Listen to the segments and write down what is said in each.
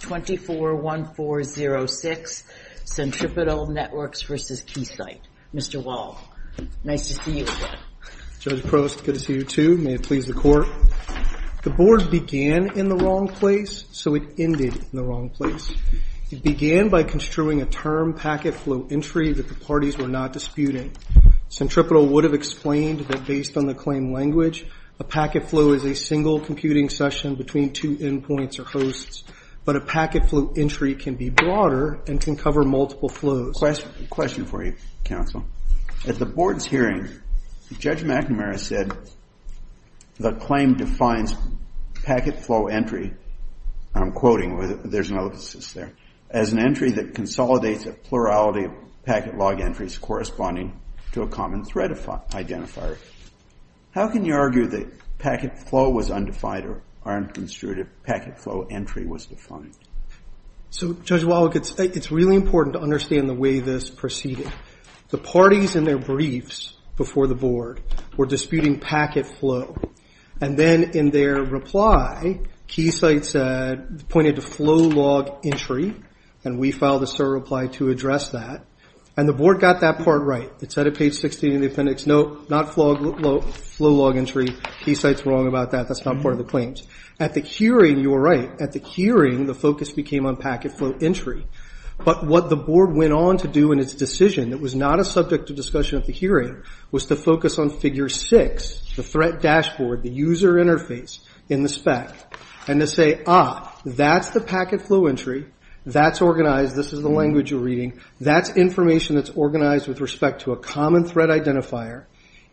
241406, Centripetal Networks v. Keysight. Mr. Wall, nice to see you again. Judge Prost, good to see you too. May it please the Court. The Board began in the wrong place, so it ended in the wrong place. It began by construing a term packet flow entry that the parties were not disputing. Centripetal would have explained that based on the claim language, a packet flow is a single computing session between two endpoints or hosts, but a packet flow entry can be broader and can cover multiple flows. Question for you, Counsel. At the Board's hearing, Judge McNamara said the claim defines packet flow entry, and I'm quoting, there's an ellipsis there, as an entry that consolidates a plurality of packet log entries corresponding to a common thread identifier. How can you argue that packet flow was undefined or unconstrued if packet flow entry was defined? So, Judge Wall, it's really important to understand the way this proceeded. The parties in their briefs before the Board were disputing packet flow, and then in their reply, Keysight pointed to flow log entry, and we filed a SIR reply to address that. And the Board got that part right. It's at page 16 of the appendix, no, not flow log entry. Keysight's wrong about that. That's not part of the claims. At the hearing, you were right. At the hearing, the focus became on packet flow entry. But what the Board went on to do in its decision, that was not a subject of discussion at the hearing, was to focus on figure six, the threat dashboard, the user interface in the spec, and to say, ah, that's the packet flow entry, that's organized, this is the language you're reading, that's information that's organized with respect to a common thread identifier.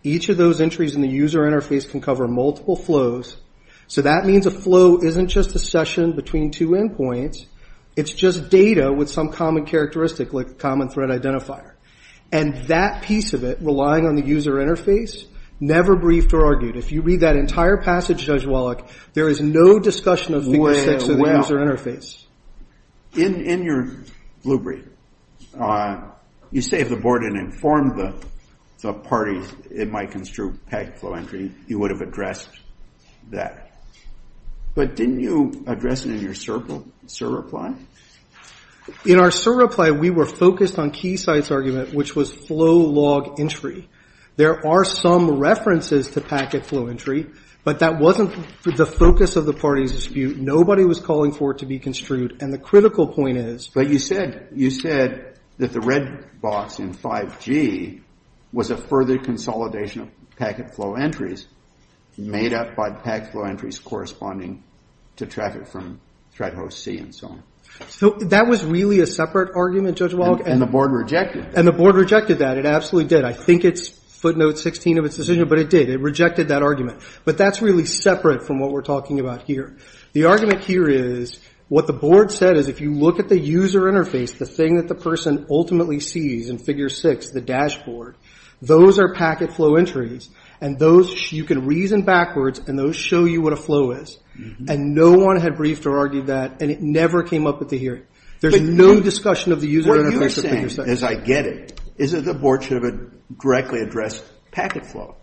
Each of those entries in the user interface can cover multiple flows, so that means a flow isn't just a session between two endpoints, it's just data with some common characteristic, like a common thread identifier. And that piece of it, relying on the user interface, never briefed or argued. If you read that entire passage, Judge Wallach, there is no discussion of figure six of the user interface. In your blue brief, you say if the Board had informed the parties it might construe packet flow entry, you would have addressed that. But didn't you address it in your SIR reply? In our SIR reply, we were focused on Keysight's argument, which was flow log entry. There are some references to packet flow entry, but that wasn't the focus of the parties' dispute. Nobody was calling for it to be construed, and the critical point is… But you said that the red box in 5G was a further consolidation of packet flow entries made up by packet flow entries corresponding to traffic from thread host C and so on. That was really a separate argument, Judge Wallach. And the Board rejected that. And the Board rejected that, it absolutely did. I think it's footnote 16 of its decision, but it did, it rejected that argument. But that's really separate from what we're talking about here. The argument here is what the Board said is if you look at the user interface, the thing that the person ultimately sees in Figure 6, the dashboard, those are packet flow entries, and those you can reason backwards, and those show you what a flow is. And no one had briefed or argued that, and it never came up at the hearing. There's no discussion of the user interface of Figure 6. What you're saying, as I get it, is that the Board should have directly addressed packet flow,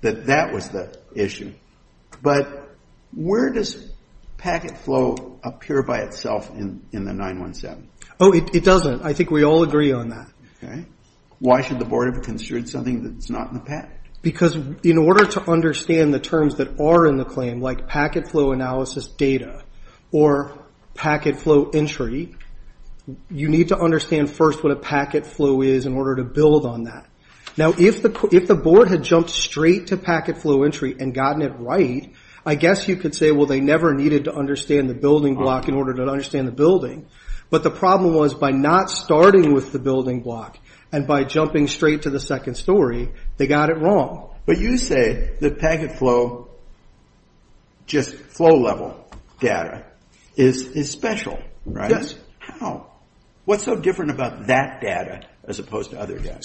that that was the issue. But where does packet flow appear by itself in the 917? Oh, it doesn't. I think we all agree on that. Okay. Why should the Board have considered something that's not in the patent? Because in order to understand the terms that are in the claim, like packet flow analysis data or packet flow entry, you need to understand first what a packet flow is in order to build on that. Now, if the Board had jumped straight to packet flow entry and gotten it right, I guess you could say, well, they never needed to understand the building block in order to understand the building. But the problem was by not starting with the building block and by jumping straight to the second story, they got it wrong. But you say that packet flow, just flow level data, is special, right? Yes. How? What's so different about that data as opposed to other data?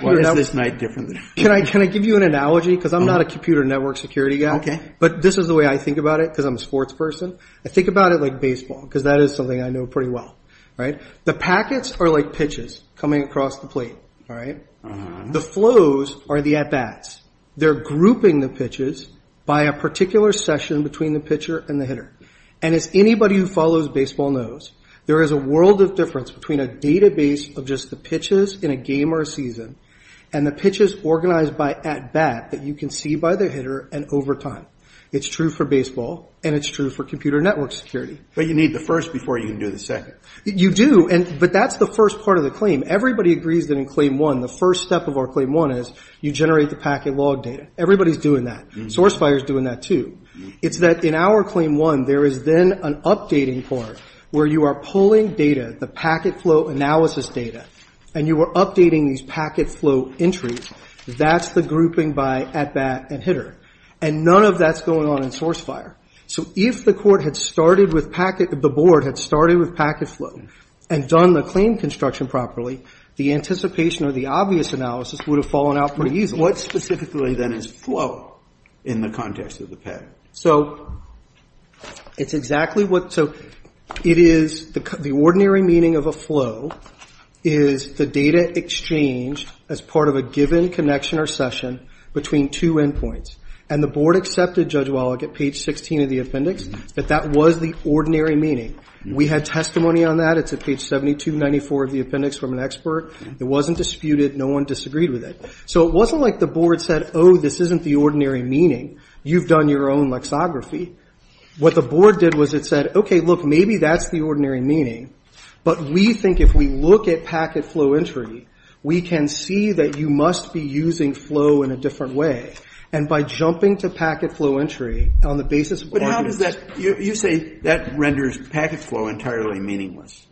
What is this night different than? Can I give you an analogy? Because I'm not a computer network security guy, but this is the way I think about it because I'm a sports person. I think about it like baseball because that is something I know pretty well. The packets are like pitches coming across the plate. The flows are the at-bats. They're grouping the pitches by a particular session between the pitcher and the hitter. And as anybody who follows baseball knows, there is a world of difference between a database of just the pitches in a game or a season and the pitches organized by at-bat that you can see by the hitter and over time. It's true for baseball, and it's true for computer network security. But you need the first before you can do the second. You do, but that's the first part of the claim. Everybody agrees that in Claim 1, the first step of our Claim 1 is you generate the packet log data. Everybody's doing that. Source Fire is doing that too. It's that in our Claim 1, there is then an updating part where you are pulling data, the packet flow analysis data, and you are updating these packet flow entries. That's the grouping by at-bat and hitter. And none of that's going on in Source Fire. So if the court had started with packet, the board had started with packet flow and done the claim construction properly, the anticipation or the obvious analysis would have fallen out pretty easily. What specifically then is flow in the context of the patent? So it's exactly what so it is the ordinary meaning of a flow is the data exchanged as part of a given connection or session between two endpoints. And the board accepted, Judge Wallach, at page 16 of the appendix that that was the ordinary meaning. We had testimony on that. It's at page 7294 of the appendix from an expert. It wasn't disputed. No one disagreed with it. So it wasn't like the board said, oh, this isn't the ordinary meaning. You've done your own lexography. What the board did was it said, okay, look, maybe that's the ordinary meaning. But we think if we look at packet flow entry, we can see that you must be using flow in a different way. And by jumping to packet flow entry on the basis of ordinary meaning. But how does that, you say that renders packet flow entirely meaningless.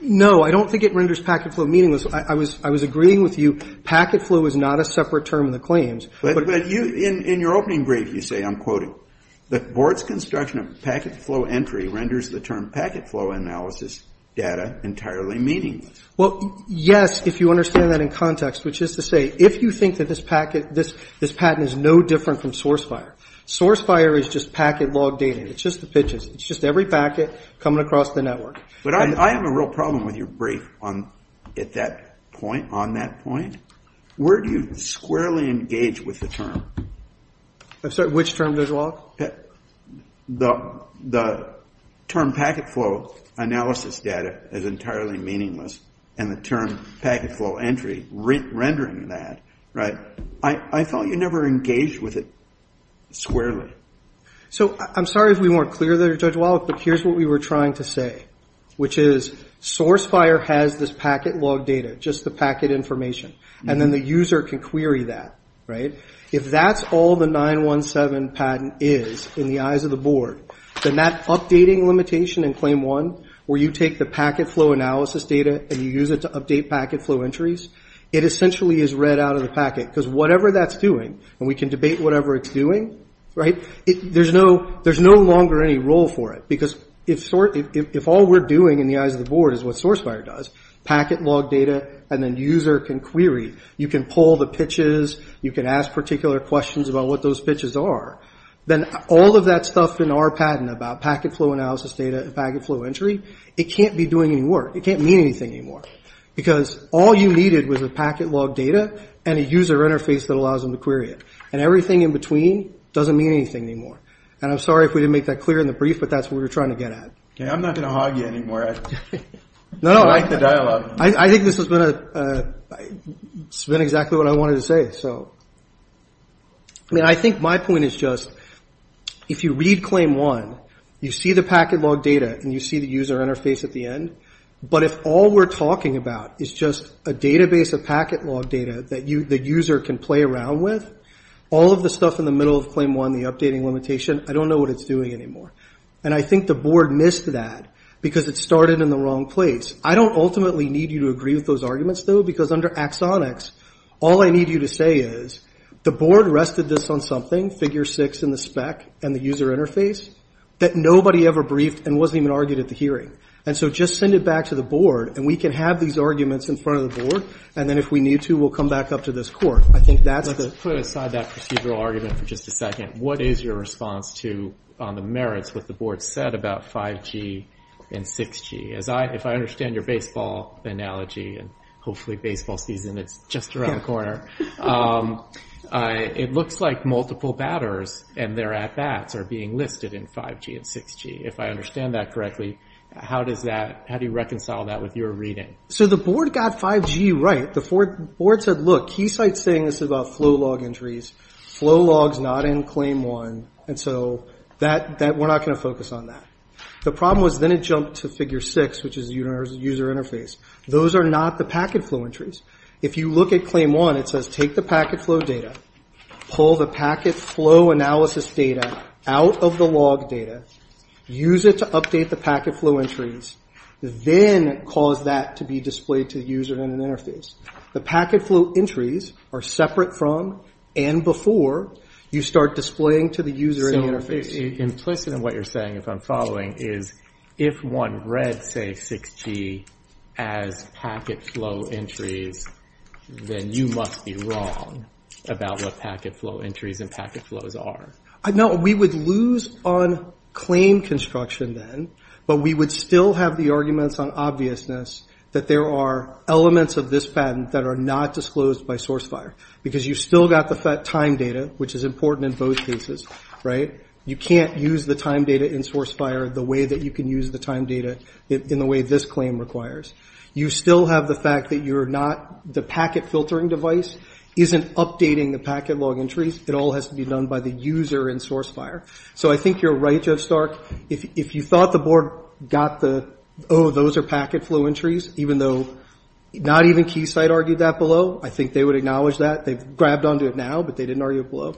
No, I don't think it renders packet flow meaningless. I was agreeing with you. Packet flow is not a separate term in the claims. But in your opening brief, you say, I'm quoting, the board's construction of packet flow entry renders the term packet flow analysis data entirely meaningless. Well, yes, if you understand that in context, which is to say, if you think that this patent is no different from source fire. Source fire is just packet log data. It's just the pitches. It's just every packet coming across the network. But I have a real problem with your brief on that point. Where do you squarely engage with the term? I'm sorry, which term, Judge Wallach? The term packet flow analysis data is entirely meaningless. And the term packet flow entry rendering that. I thought you never engaged with it squarely. I'm sorry if we weren't clear there, Judge Wallach, but here's what we were trying to say, which is source fire has this packet log data, just the packet information. And then the user can query that. If that's all the 917 patent is in the eyes of the board, then that updating limitation in claim one where you take the packet flow analysis data and you use it to update packet flow entries, it essentially is read out of the packet. Because whatever that's doing, and we can debate whatever it's doing, there's no longer any role for it. Because if all we're doing in the eyes of the board is what source fire does, packet log data, and then user can query, you can pull the pitches, you can ask particular questions about what those pitches are, then all of that stuff in our patent about packet flow analysis data and packet flow entry, it can't be doing any work. It can't mean anything anymore. Because all you needed was a packet log data and a user interface that allows them to query it. And everything in between doesn't mean anything anymore. And I'm sorry if we didn't make that clear in the brief, but that's what we were trying to get at. I'm not going to hog you anymore. I like the dialogue. I think this has been exactly what I wanted to say. I mean, I think my point is just if you read claim one, you see the packet log data and you see the user interface at the end. But if all we're talking about is just a database of packet log data that the user can play around with, all of the stuff in the middle of claim one, the updating limitation, I don't know what it's doing anymore. And I think the board missed that because it started in the wrong place. I don't ultimately need you to agree with those arguments, though, because under axonics, all I need you to say is the board rested this on something, figure six in the spec and the user interface, that nobody ever briefed and wasn't even argued at the hearing. And so just send it back to the board, and we can have these arguments in front of the board, and then if we need to, we'll come back up to this court. I think that's the. Let's put aside that procedural argument for just a second. What is your response to on the merits what the board said about 5G and 6G? If I understand your baseball analogy, and hopefully baseball season is just around the corner, it looks like multiple batters and their at-bats are being listed in 5G and 6G. If I understand that correctly, how do you reconcile that with your reading? So the board got 5G right. The board said, look, Keysight's saying this is about flow log entries, flow logs not in claim one, and so we're not going to focus on that. The problem was then it jumped to figure six, which is user interface. Those are not the packet flow entries. If you look at claim one, it says take the packet flow data, pull the packet flow analysis data out of the log data, use it to update the packet flow entries, then cause that to be displayed to the user in an interface. The packet flow entries are separate from and before you start displaying to the user in the interface. Implicit in what you're saying, if I'm following, is if one read, say, 6G as packet flow entries, then you must be wrong about what packet flow entries and packet flows are. No, we would lose on claim construction then, but we would still have the arguments on obviousness that there are elements of this patent that are not disclosed by source FHIR because you've still got the time data, which is important in both cases, right? You can't use the time data in source FHIR the way that you can use the time data in the way this claim requires. You still have the fact that you're not the packet filtering device isn't updating the packet log entries. It all has to be done by the user in source FHIR. So I think you're right, Jeff Stark. If you thought the board got the, oh, those are packet flow entries, even though not even Keysight argued that below, I think they would acknowledge that. They've grabbed onto it now, but they didn't argue it below.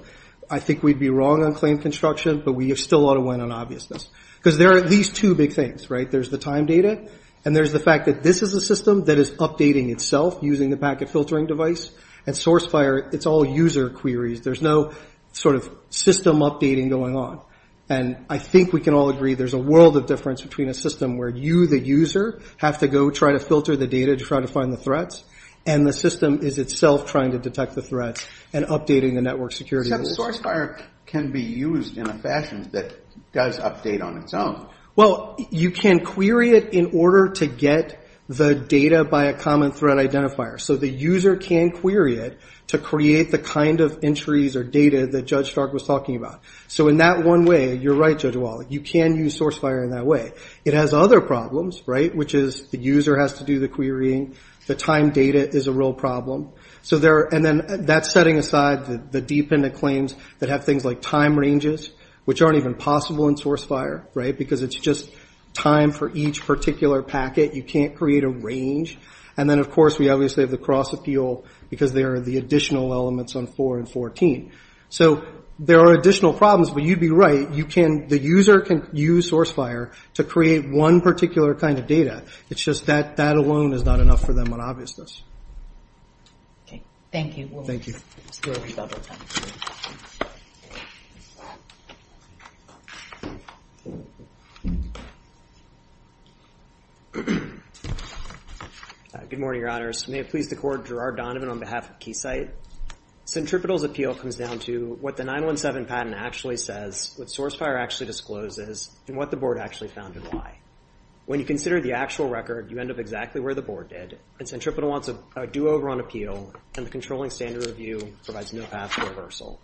I think we'd be wrong on claim construction, but we still ought to win on obviousness because there are at least two big things, right? There's the time data, and there's the fact that this is a system that is updating itself using the packet filtering device, and source FHIR, it's all user queries. There's no sort of system updating going on. And I think we can all agree there's a world of difference between a system where you, the user, have to go try to filter the data to try to find the threats, and the system is itself trying to detect the threats and updating the network security rules. But source FHIR can be used in a fashion that does update on its own. Well, you can query it in order to get the data by a common threat identifier. So the user can query it to create the kind of entries or data that Judge Stark was talking about. So in that one way, you're right, Judge Wallach, you can use source FHIR in that way. It has other problems, right, which is the user has to do the querying. The time data is a real problem. And then that's setting aside the dependent claims that have things like time ranges, which aren't even possible in source FHIR, right, because it's just time for each particular packet. You can't create a range. And then, of course, we obviously have the cross appeal because there are the additional elements on 4 and 14. So there are additional problems, but you'd be right. The user can use source FHIR to create one particular kind of data. It's just that that alone is not enough for them on obviousness. Okay, thank you. Thank you. Good morning, Your Honors. May it please the Court, Gerard Donovan on behalf of Keysight. Centripetal's appeal comes down to what the 917 patent actually says, what source FHIR actually discloses, and what the Board actually found and why. When you consider the actual record, you end up exactly where the Board did, and Centripetal wants a do-over on appeal, and the controlling standard review provides no path to reversal.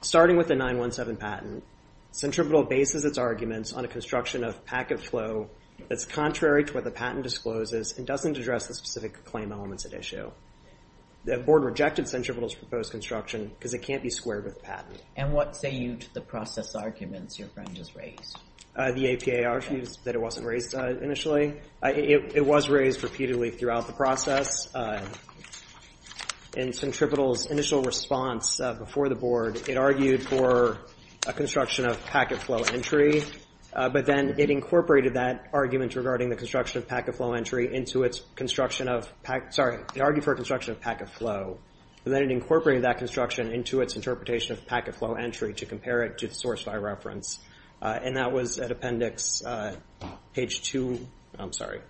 Starting with the 917 patent, Centripetal bases its arguments on a construction of packet flow that's contrary to what the patent discloses and doesn't address the specific claim elements at issue. The Board rejected Centripetal's proposed construction because it can't be squared with the patent. And what say you to the process arguments your friend just raised? The APA argues that it wasn't raised initially. It was raised repeatedly throughout the process. In Centripetal's initial response before the Board, it argued for a construction of packet flow entry, but then it incorporated that argument regarding the construction of packet flow entry into its construction of packet, sorry, it argued for a construction of packet flow, but then it incorporated that construction into its interpretation of packet flow entry to compare it to the source FHIR reference. And that was at appendix page two, I'm sorry,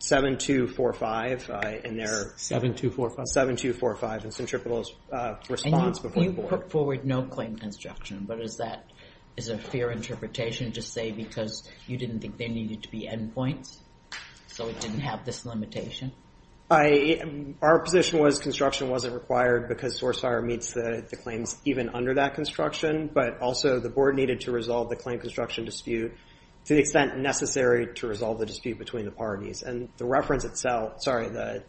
7245. 7245. 7245 in Centripetal's response before the Board. And you put forward no claim construction, but is that a fair interpretation to say because you didn't think there needed to be endpoints? So it didn't have this limitation? Our position was construction wasn't required because source FHIR meets the claims even under that construction, but also the Board needed to resolve the claim construction dispute to the extent necessary to resolve the dispute between the parties. And the reference itself, sorry, the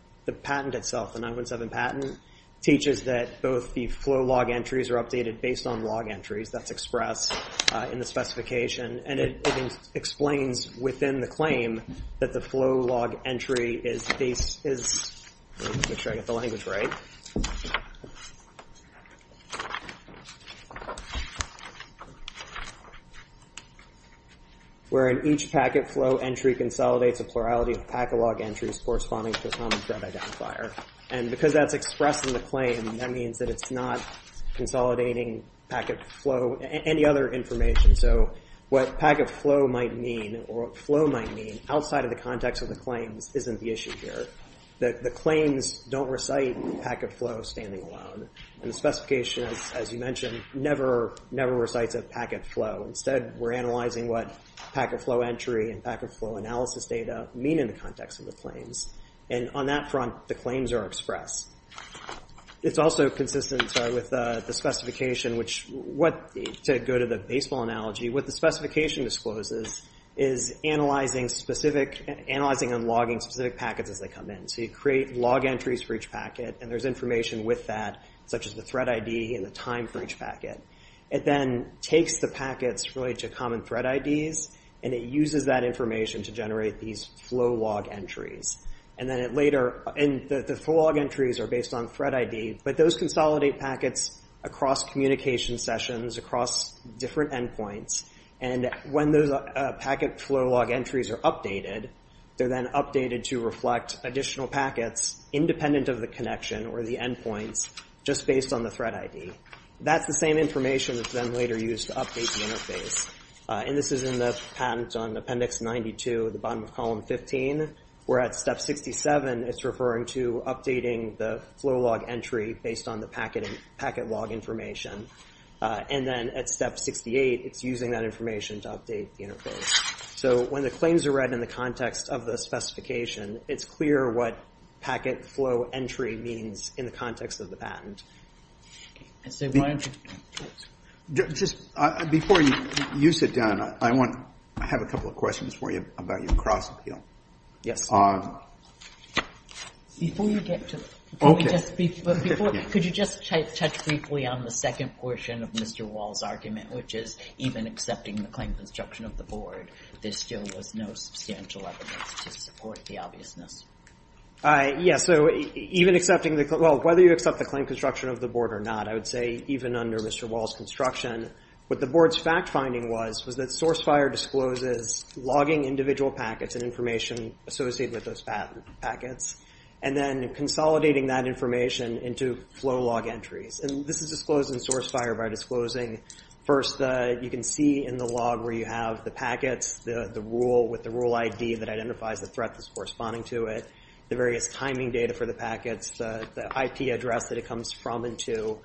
patent itself, the 917 patent, teaches that both the flow log entries are updated based on log entries that's expressed in the specification. And it explains within the claim that the flow log entry is, where in each packet flow entry consolidates a plurality of packet log entries corresponding to a common thread identifier. And because that's expressed in the claim, that means that it's not consolidating packet flow, any other information. So what packet flow might mean or flow might mean outside of the context of the claims isn't the issue here. The claims don't recite packet flow standing alone. And the specification, as you mentioned, never recites a packet flow. Instead, we're analyzing what packet flow entry and packet flow analysis data mean in the context of the claims. And on that front, the claims are expressed. It's also consistent with the specification, which what, to go to the baseball analogy, what the specification discloses is analyzing specific, analyzing and logging specific packets as they come in. So you create log entries for each packet, and there's information with that, such as the thread ID and the time for each packet. It then takes the packets related to common thread IDs, and it uses that information to generate these flow log entries. And then it later, and the flow log entries are based on thread ID, but those consolidate packets across communication sessions, across different endpoints. And when those packet flow log entries are updated, they're then updated to reflect additional packets, independent of the connection or the endpoints, just based on the thread ID. That's the same information that's then later used to update the interface. And this is in the patent on Appendix 92, the bottom of Column 15, where at Step 67, it's referring to updating the flow log entry based on the packet log information. And then at Step 68, it's using that information to update the interface. So when the claims are read in the context of the specification, it's clear what packet flow entry means in the context of the patent. Just before you sit down, I have a couple of questions for you about your cross-appeal. Yes. Before you get to it, could you just touch briefly on the second portion of Mr. Wall's argument, which is even accepting the claim construction of the board, there still was no substantial evidence to support the obviousness. Yes. Whether you accept the claim construction of the board or not, I would say even under Mr. Wall's construction, what the board's fact-finding was was that SourceFire discloses logging individual packets and information associated with those packets, and then consolidating that information into flow log entries. And this is disclosed in SourceFire by disclosing, first, you can see in the log where you have the packets, the rule with the rule ID that identifies the threat that's corresponding to it, the various timing data for the packets, the IP address that it comes from and to,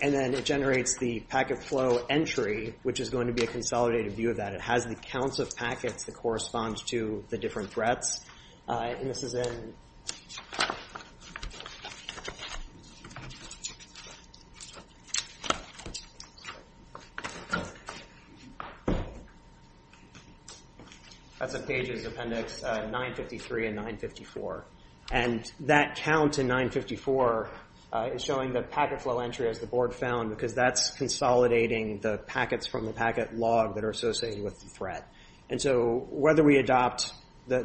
and then it generates the packet flow entry, which is going to be a consolidated view of that. It has the counts of packets that correspond to the different threats. And this is in – that's in Pages, Appendix 953 and 954. And that count in 954 is showing the packet flow entry, as the board found, because that's consolidating the packets from the packet log that are associated with the threat. And so whether we adopt – under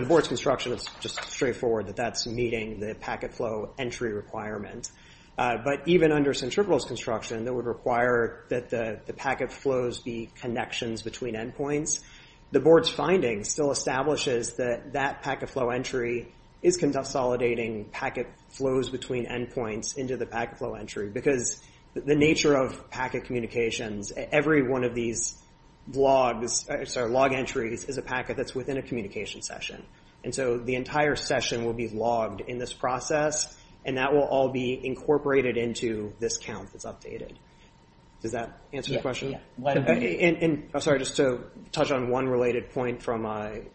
the board's construction, it's just straightforward that that's meeting the packet flow entry requirement. But even under Centripetal's construction, that would require that the packet flows be connections between endpoints. The board's findings still establishes that that packet flow entry is consolidating packet flows between endpoints into the packet flow entry, because the nature of packet communications, every one of these logs – sorry, log entries is a packet that's within a communication session. And so the entire session will be logged in this process, and that will all be incorporated into this count that's updated. Does that answer your question? And I'm sorry, just to touch on one related point from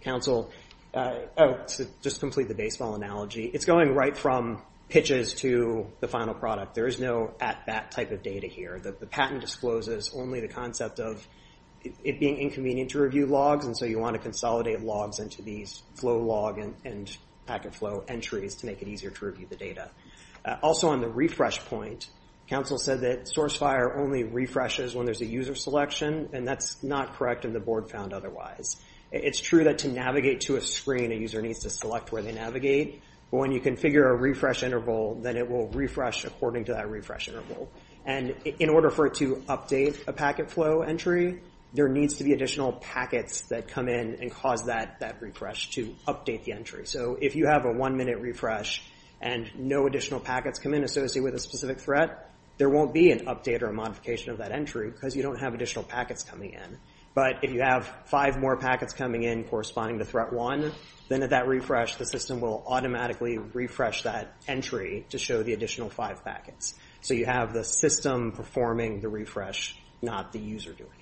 Council, to just complete the baseball analogy. It's going right from pitches to the final product. There is no at-bat type of data here. The patent discloses only the concept of it being inconvenient to review logs, and so you want to consolidate logs into these flow log and packet flow entries to make it easier to review the data. Also, on the refresh point, Council said that SourceFire only refreshes when there's a user selection, and that's not correct, and the board found otherwise. It's true that to navigate to a screen, a user needs to select where they navigate, but when you configure a refresh interval, then it will refresh according to that refresh interval. And in order for it to update a packet flow entry, there needs to be additional packets that come in and cause that refresh to update the entry. So if you have a one-minute refresh and no additional packets come in associated with a specific threat, there won't be an update or a modification of that entry because you don't have additional packets coming in. But if you have five more packets coming in corresponding to threat one, then at that refresh, the system will automatically refresh that entry to show the additional five packets. So you have the system performing the refresh, not the user doing it.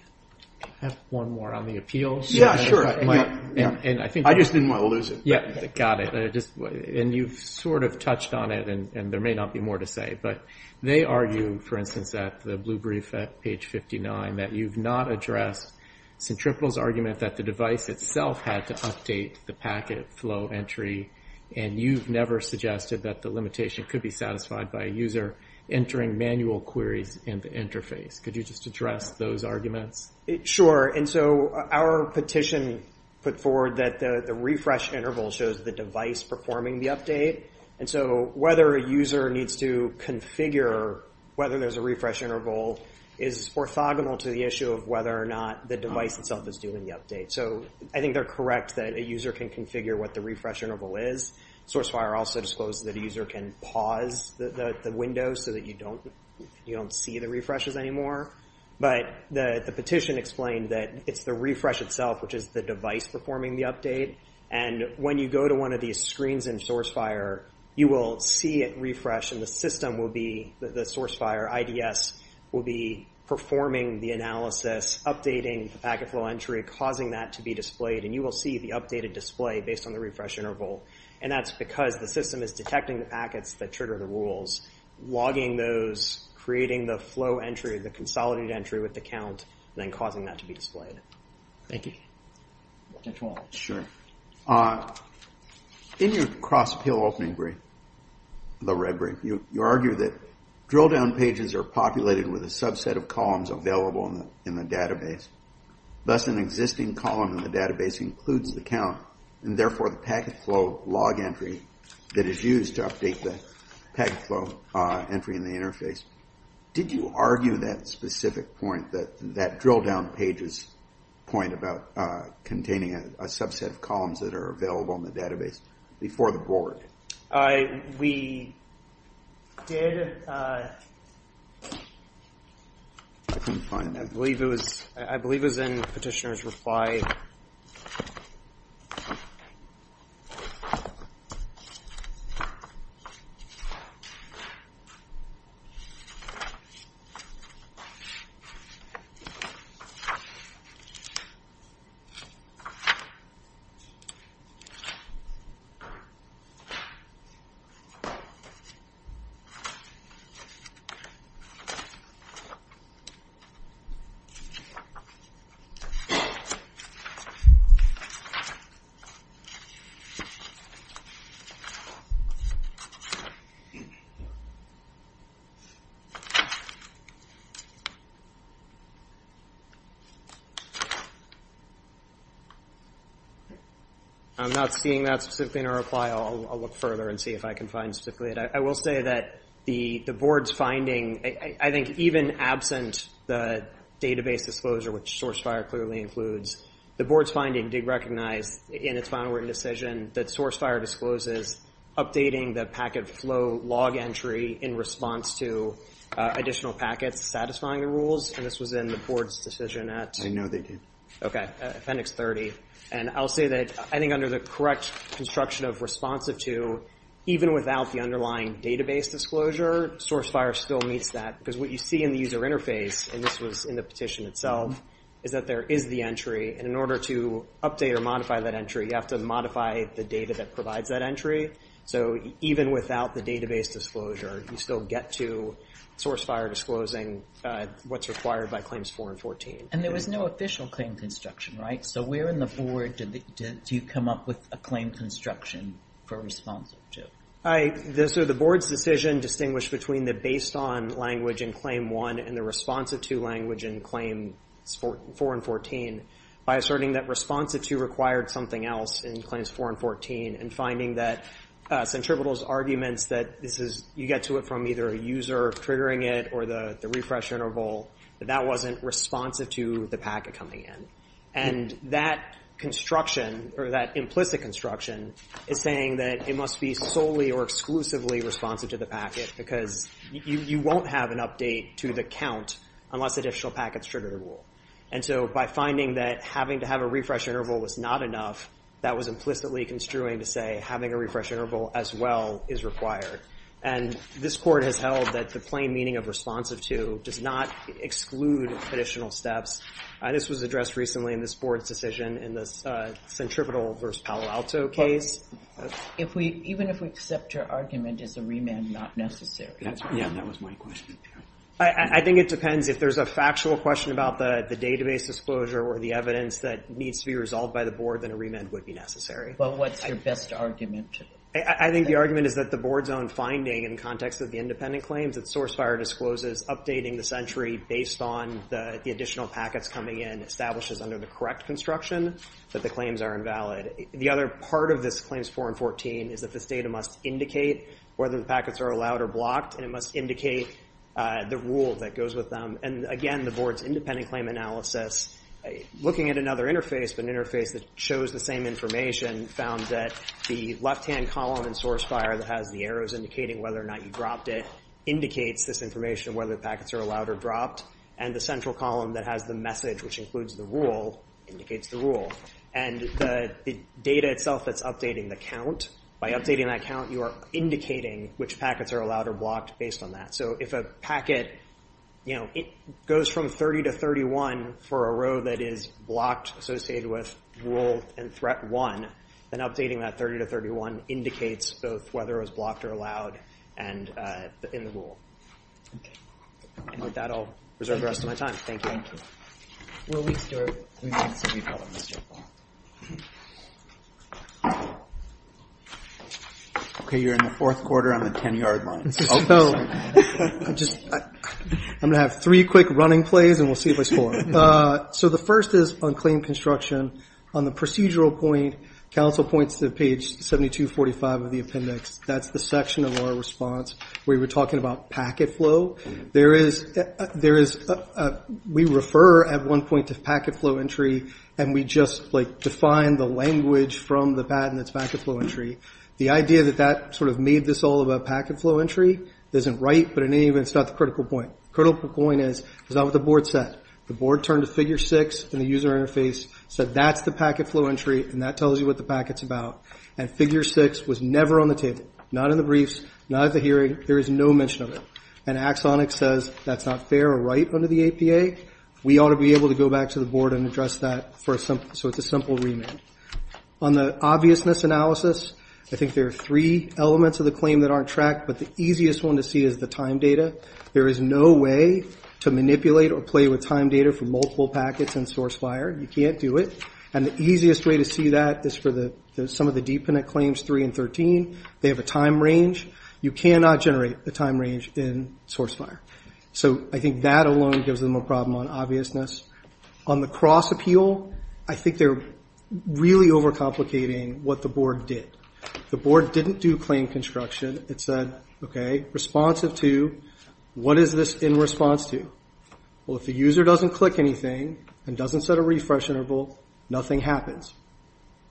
I have one more on the appeals. Yeah, sure. I just didn't want to lose it. Yeah, got it. And you've sort of touched on it, and there may not be more to say, but they argue, for instance, at the blue brief at page 59, that you've not addressed Centripetal's argument that the device itself had to update the packet flow entry, and you've never suggested that the limitation could be satisfied by a user entering manual queries in the interface. Could you just address those arguments? Sure. And so our petition put forward that the refresh interval shows the device performing the update. And so whether a user needs to configure whether there's a refresh interval is orthogonal to the issue of whether or not the device itself is doing the update. So I think they're correct that a user can configure what the refresh interval is. SourceFire also disclosed that a user can pause the window so that you don't see the refreshes anymore. But the petition explained that it's the refresh itself, which is the device performing the update. And when you go to one of these screens in SourceFire, you will see it refresh, and the system will be, the SourceFire IDS, will be performing the analysis, updating the packet flow entry, causing that to be displayed, and you will see the updated display based on the refresh interval. And that's because the system is detecting the packets that trigger the rules, logging those, creating the flow entry, the consolidated entry with the count, and then causing that to be displayed. Thank you. Sure. In your cross-pill opening brief, the red brief, you argue that drill-down pages are populated with a subset of columns available in the database. Thus an existing column in the database includes the count, and therefore the packet flow log entry that is used to update the packet flow entry in the interface. Did you argue that specific point, that drill-down pages point about containing a subset of columns that are available in the database before the board? We did. I couldn't find that. I believe it was in Petitioner's reply. Thank you. I'm not seeing that specifically in her reply. I'll look further and see if I can find specifically it. I will say that the board's finding, I think even absent the database disclosure, which SourceFire clearly includes, the board's finding did recognize in its final written decision that SourceFire discloses updating the packet flow log entry in response to additional packets satisfying the rules, and this was in the board's decision at? I know they did. Okay, Appendix 30. And I'll say that I think under the correct construction of responsive to, even without the underlying database disclosure, SourceFire still meets that, because what you see in the user interface, and this was in the petition itself, is that there is the entry, and in order to update or modify that entry, you have to modify the data that provides that entry. So even without the database disclosure, you still get to SourceFire disclosing what's required by Claims 4 and 14. And there was no official claim construction, right? So where in the board do you come up with a claim construction for responsive to? So the board's decision distinguished between the based on language in Claim 1 and the responsive to language in Claims 4 and 14 by asserting that responsive to required something else in Claims 4 and 14 and finding that Centribetal's arguments that you get to it from either a user triggering it or the refresh interval, that that wasn't responsive to the packet coming in. And that construction, or that implicit construction, is saying that it must be solely or exclusively responsive to the packet because you won't have an update to the count unless additional packets trigger the rule. And so by finding that having to have a refresh interval was not enough, that was implicitly construing to say having a refresh interval as well is required. And this court has held that the plain meaning of responsive to does not exclude additional steps. This was addressed recently in this board's decision in the Centribetal v. Palo Alto case. Even if we accept your argument, is a remand not necessary? Yeah, that was my question. I think it depends. If there's a factual question about the database disclosure or the evidence that needs to be resolved by the board, then a remand would be necessary. But what's your best argument? I think the argument is that the board's own finding in context of the independent claims, that SourceFire discloses updating the sentry based on the additional packets coming in establishes under the correct construction that the claims are invalid. The other part of this Claims 4 and 14 is that this data must indicate whether the packets are allowed or blocked, and it must indicate the rule that goes with them. And again, the board's independent claim analysis, looking at another interface, but an interface that shows the same information, found that the left-hand column in SourceFire that has the arrows indicating whether or not you dropped it, indicates this information whether the packets are allowed or dropped. And the central column that has the message, which includes the rule, indicates the rule. And the data itself that's updating the count, by updating that count, you are indicating which packets are allowed or blocked based on that. So if a packet goes from 30 to 31 for a row that is blocked, associated with rule and threat 1, then updating that 30 to 31 indicates both whether it was blocked or allowed in the rule. And with that, I'll reserve the rest of my time. Thank you. Okay, you're in the fourth quarter on the 10-yard line. So I'm going to have three quick running plays, and we'll see if I score. So the first is on claim construction. On the procedural point, counsel points to page 7245 of the appendix. That's the section of our response where you were talking about packet flow. We refer at one point to packet flow entry, and we just define the language from the patent that's packet flow entry. The idea that that sort of made this all about packet flow entry isn't right, but in any event, it's not the critical point. The critical point is it's not what the board said. The board turned to figure 6 in the user interface, said that's the packet flow entry, and that tells you what the packet's about. And figure 6 was never on the table, not in the briefs, not at the hearing. There is no mention of it. And Axonic says that's not fair or right under the APA. We ought to be able to go back to the board and address that, so it's a simple remand. On the obviousness analysis, I think there are three elements of the claim that aren't tracked, but the easiest one to see is the time data. There is no way to manipulate or play with time data for multiple packets in SourceFire. You can't do it. And the easiest way to see that is for some of the dependent claims 3 and 13. They have a time range. You cannot generate the time range in SourceFire. So I think that alone gives them a problem on obviousness. On the cross-appeal, I think they're really overcomplicating what the board did. The board didn't do claim construction. It said, okay, responsive to, what is this in response to? Well, if the user doesn't click anything and doesn't set a refresh interval, nothing happens.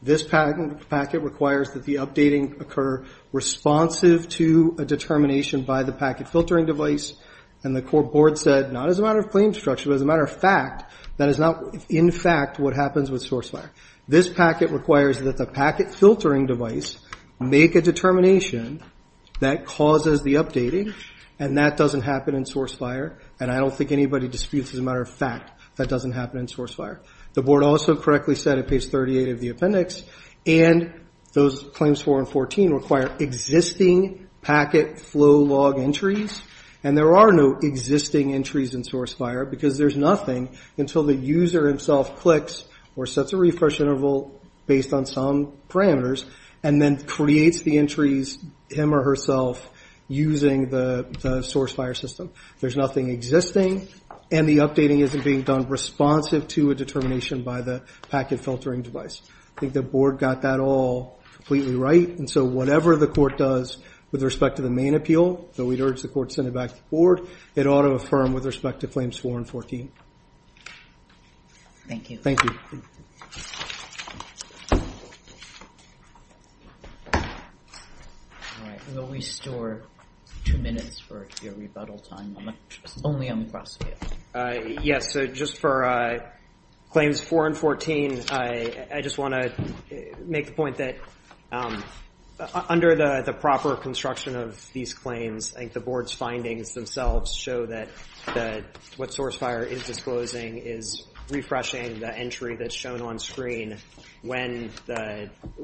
This packet requires that the updating occur responsive to a determination by the packet filtering device. And the board said, not as a matter of claim structure, but as a matter of fact, that is not in fact what happens with SourceFire. This packet requires that the packet filtering device make a determination that causes the updating, and that doesn't happen in SourceFire. And I don't think anybody disputes as a matter of fact that doesn't happen in SourceFire. The board also correctly said at page 38 of the appendix, and those claims 4 and 14 require existing packet flow log entries, and there are no existing entries in SourceFire because there's nothing until the user himself clicks or sets a refresh interval based on some parameters and then creates the entries him or herself using the SourceFire system. There's nothing existing, and the updating isn't being done responsive to a determination by the packet filtering device. I think the board got that all completely right. And so whatever the court does with respect to the main appeal, though we'd urge the court send it back to the board, it ought to affirm with respect to claims 4 and 14. Thank you. Thank you. All right, we'll restore two minutes for your rebuttal time, only on the cross-field. Yes, so just for claims 4 and 14, I just want to make the point that under the proper construction of these claims, I think the board's findings themselves show that what SourceFire is disclosing is refreshing the entry that's shown on screen. When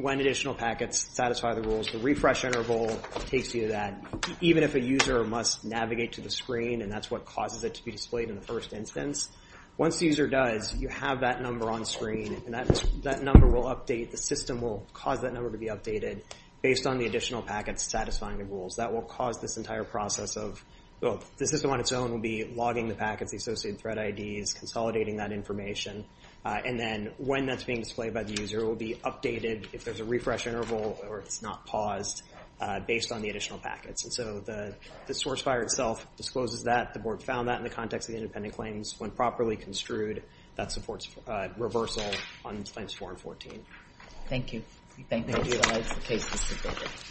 additional packets satisfy the rules, the refresh interval takes you to that, even if a user must navigate to the screen, and that's what causes it to be displayed in the first instance. Once the user does, you have that number on screen, and that number will update. The system will cause that number to be updated based on the additional packets satisfying the rules. That will cause this entire process of the system on its own will be logging the packets, the associated thread IDs, consolidating that information. And then when that's being displayed by the user, it will be updated if there's a refresh interval or it's not paused based on the additional packets. And so the SourceFire itself discloses that. The board found that in the context of the independent claims. When properly construed, that supports reversal on claims 4 and 14. Thank you. Thank you. That's the case.